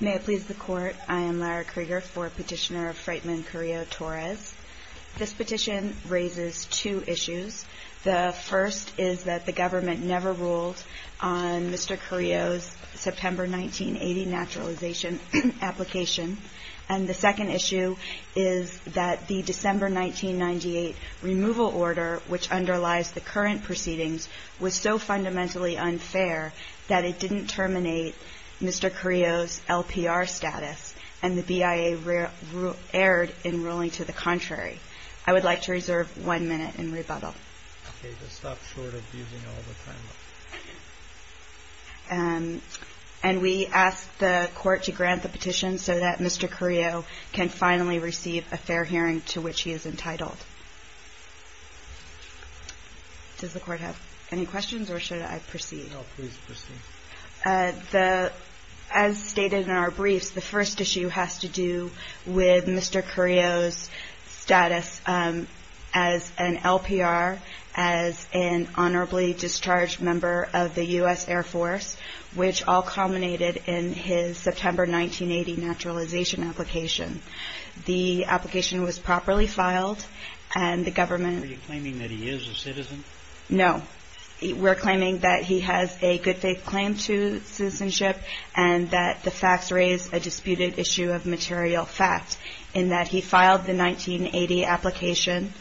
May it please the Court, I am Lara Krieger for Petitioner of Freightman Carrillo-Torres. This petition raises two issues. The first is that the government never ruled on Mr. Carrillo's September 1980 naturalization application. And the second issue is that the December 1998 removal order, which underlies the current proceedings, was so fundamentally unfair that it didn't terminate Mr. Carrillo's LPR status, and the BIA erred in ruling to the contrary. I would like to reserve one minute in rebuttal. Okay, just stop short of using all the time. And we ask the Court to grant the petition so that Mr. Carrillo can finally receive a title. Does the Court have any questions or should I proceed? No, please proceed. As stated in our briefs, the first issue has to do with Mr. Carrillo's status as an LPR, as an honorably discharged member of the U.S. Air Force, which all culminated in his September 1980 naturalization application. The application was properly filed, and the government Are you claiming that he is a citizen? No. We're claiming that he has a good faith claim to citizenship and that the facts raise a disputed issue of material fact, in that he filed the 1980 application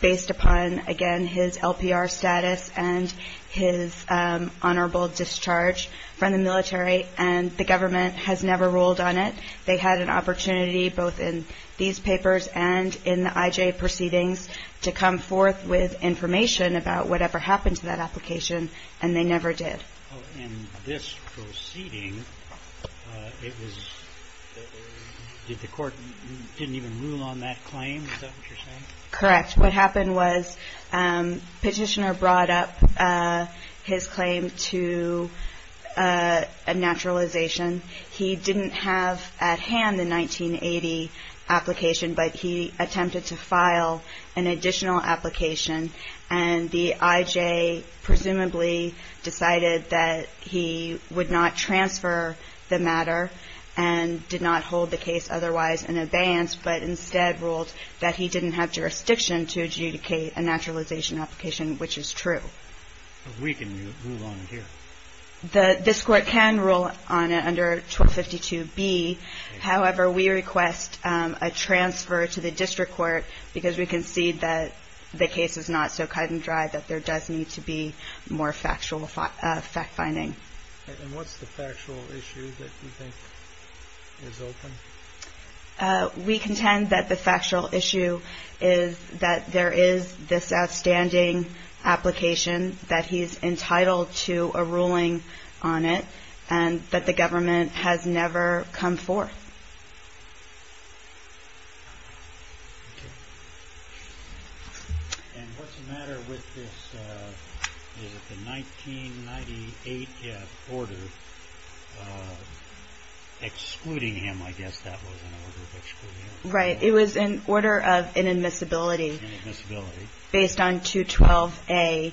based upon, again, his LPR status and his honorable discharge from the military, and the government has never ruled on it. They had an opportunity, both in these papers and in the IJ proceedings, to come forth with information about whatever happened to that application, and they never did. In this proceeding, it was, did the Court, didn't even rule on that claim? Is that what you're saying? Correct. What happened was Petitioner brought up his claim to a naturalization. He didn't have at hand the 1980 application, but he attempted to file an additional application, and the IJ presumably decided that he would not transfer the matter and did not hold the jurisdiction to adjudicate a naturalization application, which is true. We can move on here. This Court can rule on it under 1252B. However, we request a transfer to the District Court because we concede that the case is not so cut and dry, that there does need to be more factual fact-finding. And what's the factual issue that you think is open? We contend that the factual issue is that there is this outstanding application, that he is entitled to a ruling on it, and that the government has never come forth. And what's the matter with this, is it the 1998 order excluding him, I guess that was an order of excluding him? Right. It was an order of inadmissibility based on 212A.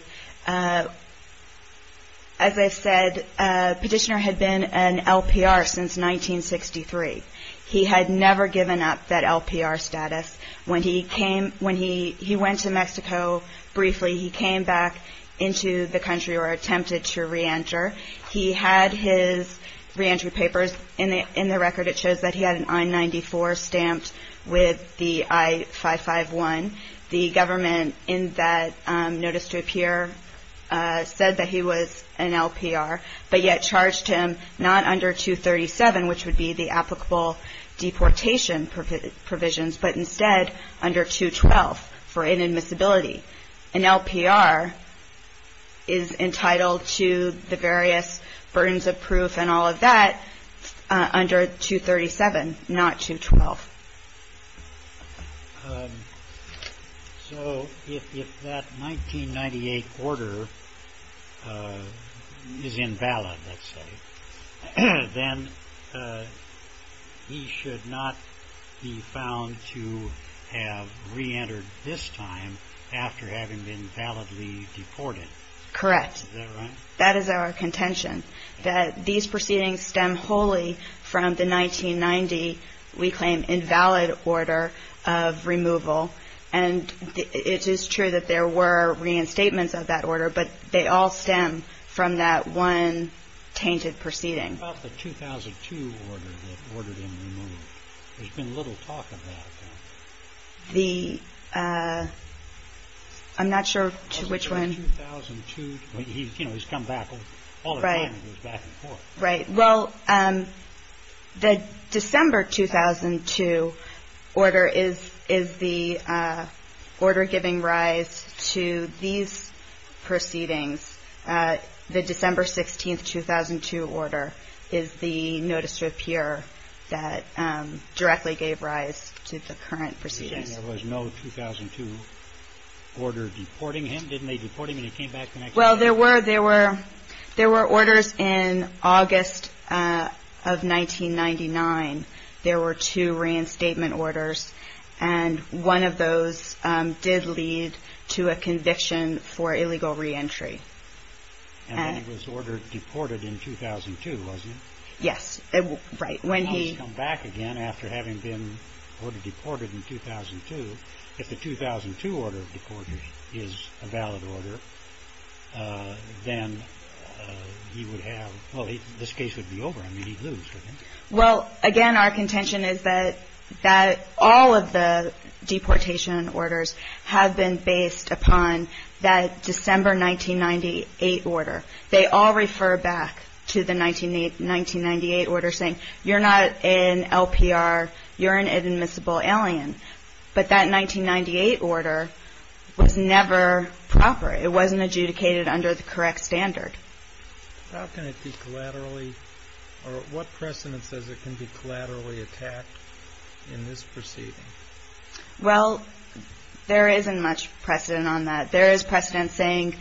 As I've said, Petitioner had been an LPR since 1963. He had never given up that LPR status. When he went to Mexico briefly, he came back into the country or attempted to reenter. He had his reentry papers. In the record, it shows that he had an I-94 stamped with the I-551. The government in Notice to Appear said that he was an LPR, but yet charged him not under 237, which would be the applicable deportation provisions, but instead under 212 for inadmissibility. An LPR is entitled to the various burdens of proof and all of that under 237, not 212. So if that 1998 order is invalid, let's say, then he should not be found to have reentered this time after having been validly deported. Correct. Is that right? That these proceedings stem wholly from the 1990, we claim, invalid order of removal. And it is true that there were reinstatements of that order, but they all stem from that one tainted proceeding. What about the 2002 order that ordered him removed? There's been little talk of that. I'm not sure which one. He's come back all the time. He goes back and forth. Right. Well, the December 2002 order is the order giving rise to these proceedings. The December 16, 2002 order is the Notice to Appear that directly gave rise to the current proceedings. You mentioned there was no 2002 order deporting him. Didn't they deport him when he came back? Well, there were orders in August of 1999. There were two reinstatement orders, and one of those did lead to a conviction for illegal reentry. And then he was ordered deported in 2002, wasn't he? Yes. Right. Well, he's come back again after having been ordered deported in 2002. If the 2002 order of deportation is a valid order, then he would have – well, this case would be over. I mean, he'd lose, wouldn't he? Well, again, our contention is that all of the deportation orders have been based upon that December 1998 order. They all refer back to the 1998 order saying, you're not an LPR, you're an inadmissible alien. But that 1998 order was never proper. It wasn't adjudicated under the correct standard. How can it be collaterally – or what precedent says it can be collaterally attacked in this proceeding? Well, there isn't much precedent on that. There is precedent saying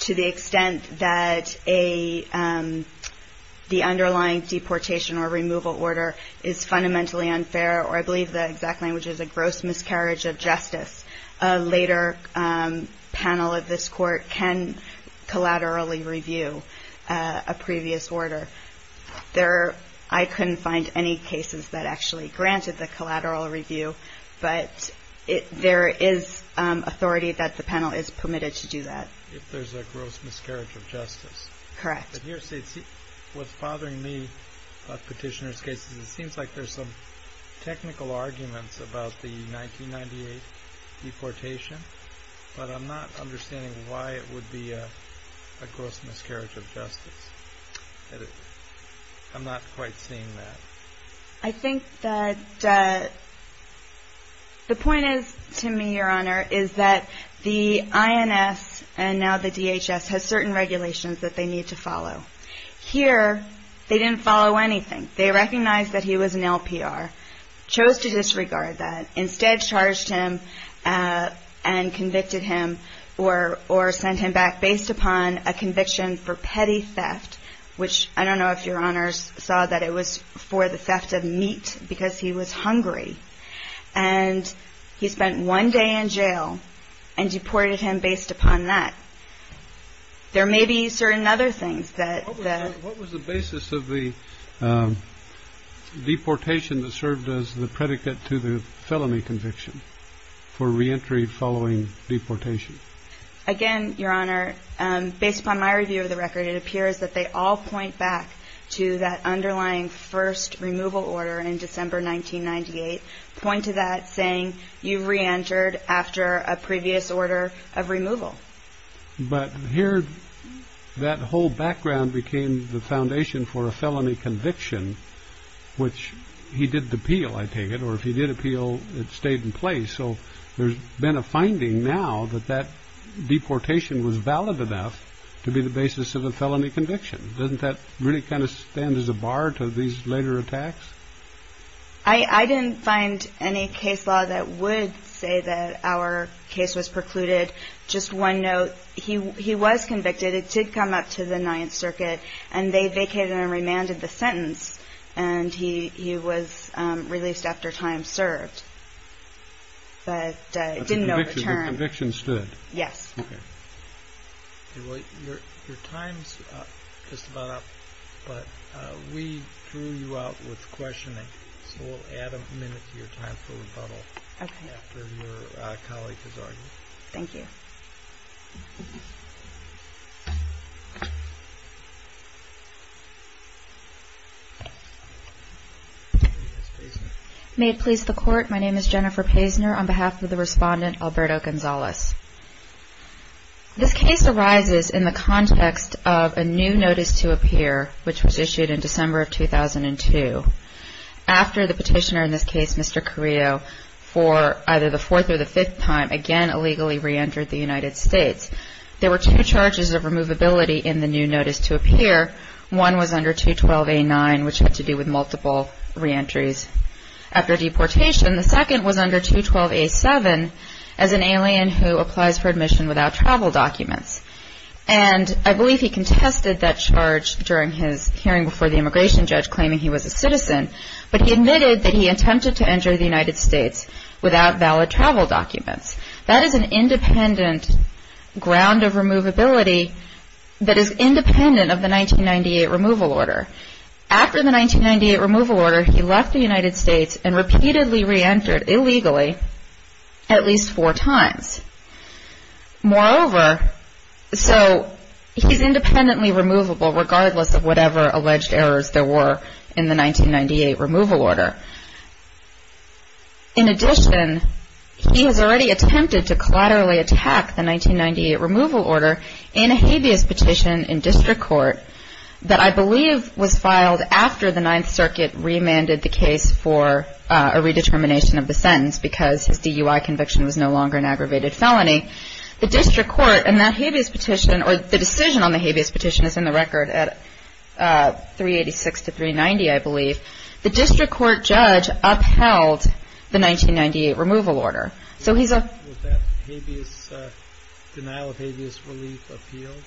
to the extent that the underlying deportation or removal order is fundamentally unfair, or I believe the exact language is a gross miscarriage of justice, a later panel of this court can collaterally review a previous order. I couldn't find any cases that actually granted the collateral review, but there is authority that the panel is permitted to do that. If there's a gross miscarriage of justice. Correct. What's bothering me about Petitioner's case is it seems like there's some technical arguments about the 1998 deportation, but I'm not understanding why it would be a gross miscarriage of justice. I'm not quite seeing that. I think that the point is to me, Your Honor, is that the INS and now the DHS has certain regulations that they need to follow. Here, they didn't follow anything. They recognized that he was an LPR, chose to disregard that, instead charged him and convicted him or sent him back based upon a conviction for petty theft, which I don't know if Your Honor saw that it was for the theft of meat because he was hungry. And he spent one day in jail and deported him based upon that. There may be certain other things that. What was the basis of the deportation that served as the predicate to the felony conviction for reentry following deportation? Again, Your Honor, based upon my review of the record, it appears that they all point back to that underlying first removal order in December 1998, point to that saying you reentered after a previous order of removal. But here, that whole background became the foundation for a felony conviction, which he did appeal, I take it. Or if he did appeal, it stayed in place. So there's been a finding now that that deportation was valid enough to be the basis of a felony conviction. Doesn't that really kind of stand as a bar to these later attacks? I didn't find any case law that would say that our case was precluded. Just one note. He was convicted. It did come up to the Ninth Circuit and they vacated and remanded the sentence. And he was released after time served. But it didn't know. The conviction stood. Yes. Your time's just about up. But we threw you out with questioning. So we'll add a minute to your time for rebuttal. OK. Thank you. May it please the court. My name is Jennifer Paisner on behalf of the respondent Alberto Gonzalez. This case arises in the context of a new notice to appear, which was issued in December of 2002. After the petitioner in this case, Mr. Carrillo, for either the fourth or the fifth time, again illegally reentered the United States. There were two charges of removability in the new notice to appear. One was under 212A9, which had to do with multiple reentries after deportation. The second was under 212A7 as an alien who applies for admission without travel documents. And I believe he contested that charge during his hearing before the immigration judge, claiming he was a citizen. But he admitted that he attempted to enter the United States without valid travel documents. That is an independent ground of removability that is independent of the 1998 removal order. After the 1998 removal order, he left the United States and repeatedly reentered illegally at least four times. Moreover, so he's independently removable regardless of whatever alleged errors there were in the 1998 removal order. In addition, he has already attempted to collaterally attack the 1998 removal order in a habeas petition in district court that I believe was filed after the Ninth Circuit remanded the case for a redetermination of the sentence because his DUI conviction was no longer an aggravated felony. The district court in that habeas petition, or the decision on the habeas petition is in the record at 386 to 390, I believe. The district court judge upheld the 1998 removal order. So he's a... Was that denial of habeas relief appealed?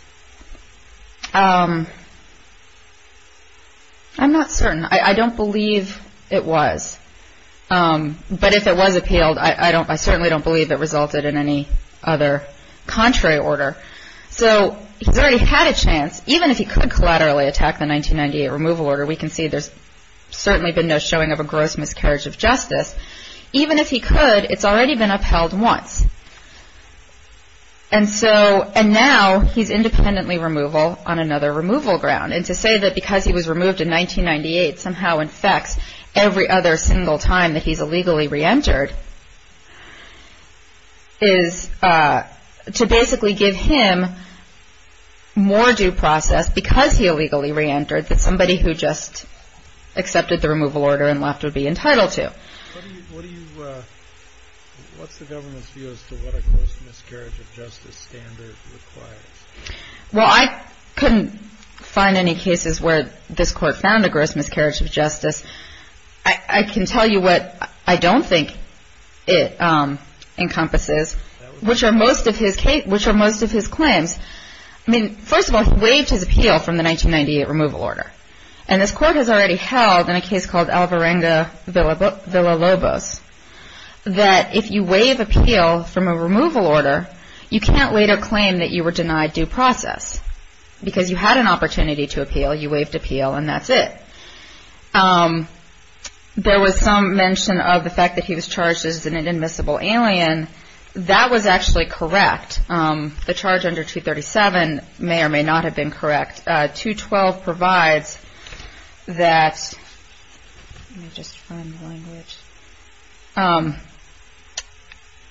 I'm not certain. I don't believe it was. But if it was appealed, I certainly don't believe it resulted in any other contrary order. So he's already had a chance, even if he could collaterally attack the 1998 removal order, we can see there's certainly been no showing of a gross miscarriage of justice. Even if he could, it's already been upheld once. And now he's independently removable on another removal ground. And to say that because he was removed in 1998 somehow infects every other single time that he's illegally reentered is to basically give him more due process because he illegally reentered than somebody who just accepted the removal order and left would be entitled to. What's the government's view as to what a gross miscarriage of justice standard requires? Well, I couldn't find any cases where this court found a gross miscarriage of justice. I can tell you what I don't think it encompasses, which are most of his claims. I mean, first of all, he waived his appeal from the 1998 removal order. And this court has already held in a case called Alvarenga-Villalobos that if you waive appeal from a removal order, you can't later claim that you were denied due process because you had an opportunity to appeal, you waived appeal, and that's it. There was some mention of the fact that he was charged as an inadmissible alien. That was actually correct. The charge under 237 may or may not have been correct. Section 212 provides that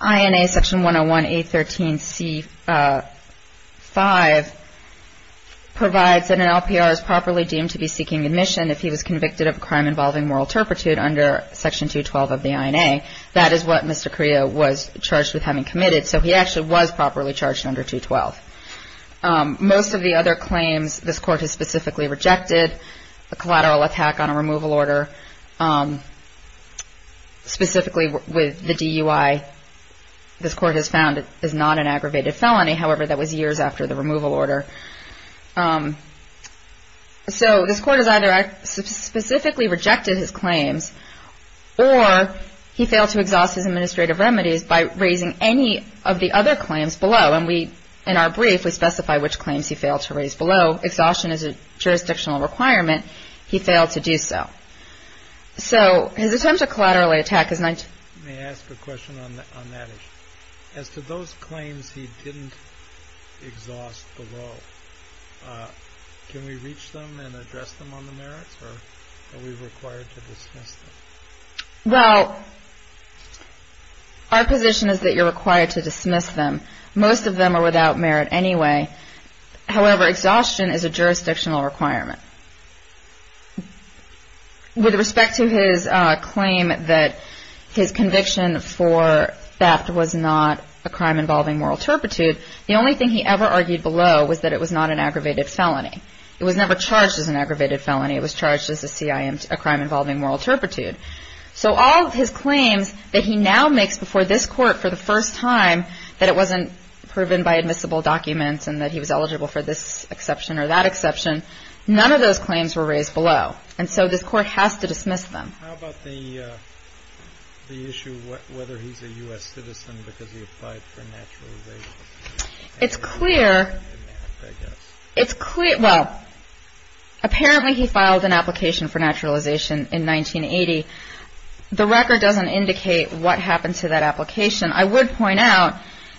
INA section 101A13C5 provides that an LPR is properly deemed to be seeking admission if he was convicted of a crime involving moral turpitude under section 212 of the INA. That is what Mr. Carrillo was charged with having committed. So he actually was properly charged under 212. Most of the other claims this court has specifically rejected, a collateral attack on a removal order, specifically with the DUI, this court has found is not an aggravated felony. However, that was years after the removal order. So this court has either specifically rejected his claims or he failed to exhaust his administrative remedies by raising any of the other claims below. And in our brief, we specify which claims he failed to raise below. Exhaustion is a jurisdictional requirement. He failed to do so. So his attempt to collaterally attack is 19- Let me ask a question on that issue. As to those claims he didn't exhaust below, can we reach them and address them on the merits, or are we required to dismiss them? Well, our position is that you're required to dismiss them. Most of them are without merit anyway. However, exhaustion is a jurisdictional requirement. With respect to his claim that his conviction for theft was not a crime involving moral turpitude, the only thing he ever argued below was that it was not an aggravated felony. It was never charged as an aggravated felony. It was charged as a crime involving moral turpitude. So all of his claims that he now makes before this court for the first time, that it wasn't proven by admissible documents and that he was eligible for this exception or that exception, none of those claims were raised below. And so this court has to dismiss them. How about the issue of whether he's a U.S. citizen because he applied for naturalization? It's clear, well, apparently he filed an application for naturalization in 1980. The record doesn't indicate what happened to that application. I would point out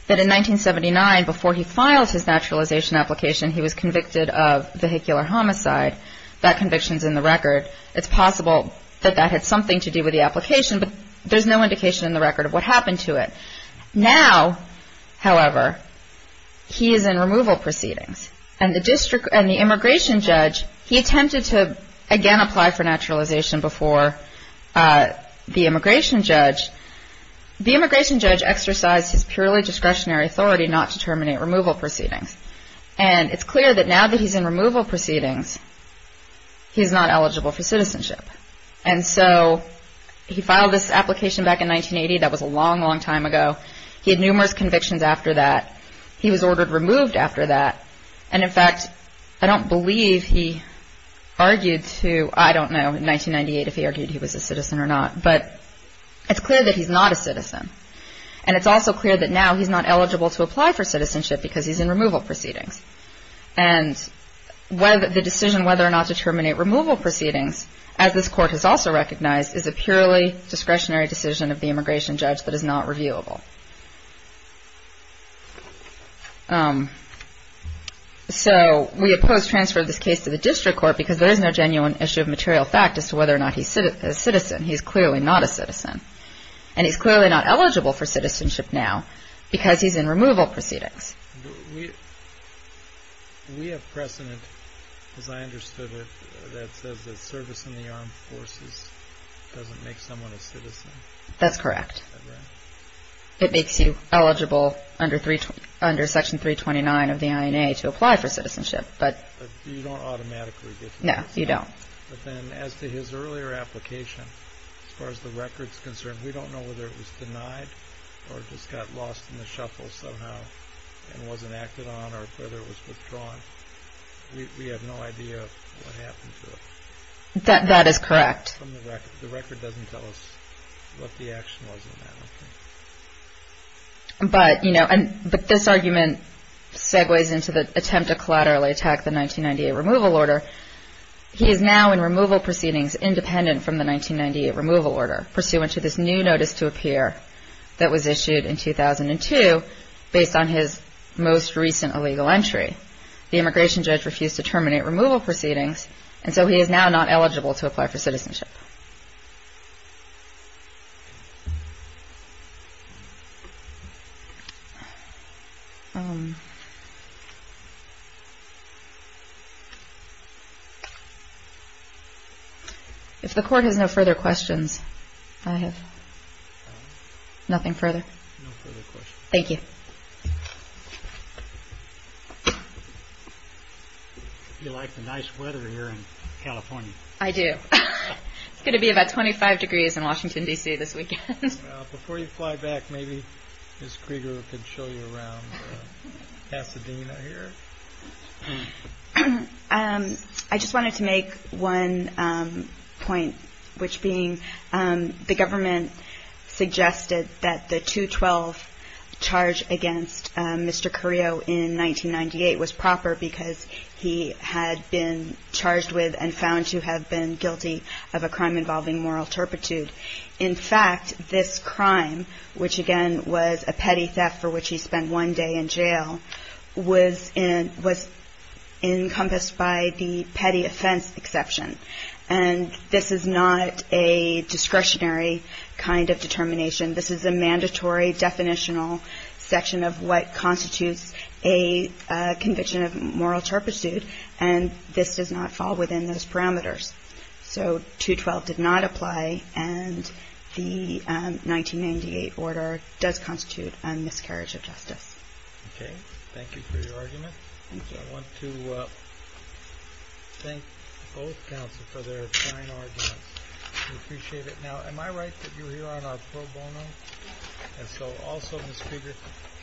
that in 1979, before he filed his naturalization application, he was convicted of vehicular homicide. That conviction's in the record. It's possible that that had something to do with the application, but there's no indication in the record of what happened to it. Now, however, he is in removal proceedings. And the immigration judge, he attempted to, again, apply for naturalization before the immigration judge. The immigration judge exercised his purely discretionary authority not to terminate removal proceedings. And it's clear that now that he's in removal proceedings, he's not eligible for citizenship. And so he filed this application back in 1980. That was a long, long time ago. He had numerous convictions after that. He was ordered removed after that. And, in fact, I don't believe he argued to, I don't know, in 1998 if he argued he was a citizen or not. But it's clear that he's not a citizen. And it's also clear that now he's not eligible to apply for citizenship because he's in removal proceedings. And the decision whether or not to terminate removal proceedings, as this court has also recognized, is a purely discretionary decision of the immigration judge that is not reviewable. So we oppose transfer of this case to the district court because there is no genuine issue of material fact as to whether or not he's a citizen. He's clearly not a citizen. And he's clearly not eligible for citizenship now because he's in removal proceedings. We have precedent, as I understood it, that says that service in the armed forces doesn't make someone a citizen. That's correct. Is that right? It makes you eligible under Section 329 of the INA to apply for citizenship. But you don't automatically get citizenship. No, you don't. But then as to his earlier application, as far as the record's concerned, we don't know whether it was denied or just got lost in the shuffle somehow and wasn't acted on or whether it was withdrawn. We have no idea what happened to it. That is correct. The record doesn't tell us what the action was in that, I think. But, you know, this argument segues into the attempt to collaterally attack the 1998 removal order. He is now in removal proceedings independent from the 1998 removal order, pursuant to this new notice to appear that was issued in 2002 based on his most recent illegal entry. The immigration judge refused to terminate removal proceedings, and so he is now not eligible to apply for citizenship. If the court has no further questions, I have nothing further. No further questions. Thank you. You like the nice weather here in California. I do. It's going to be about 25 degrees in Washington, D.C., this weekend. Before you fly back, maybe Ms. Krieger can show you around Pasadena here. I just wanted to make one point, which being the government suggested that the 212 charge against Mr. Carrillo in 1998 was proper because he had been charged with and found to have been guilty of a crime involving moral turpitude. In fact, this crime, which again was a petty theft for which he spent one day in jail, was encompassed by the petty offense exception. And this is not a discretionary kind of determination. This is a mandatory definitional section of what constitutes a conviction of moral turpitude, and this does not fall within those parameters. So 212 did not apply, and the 1998 order does constitute a miscarriage of justice. Okay. Thank you for your argument. I want to thank both counsel for their fine arguments. We appreciate it. Now, am I right that you're here on our pro bono? And so also, Ms. Krieger,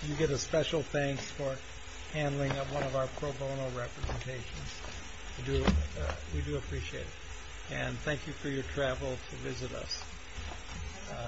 you get a special thanks for handling one of our pro bono representations. We do appreciate it. And thank you for your travel to visit us.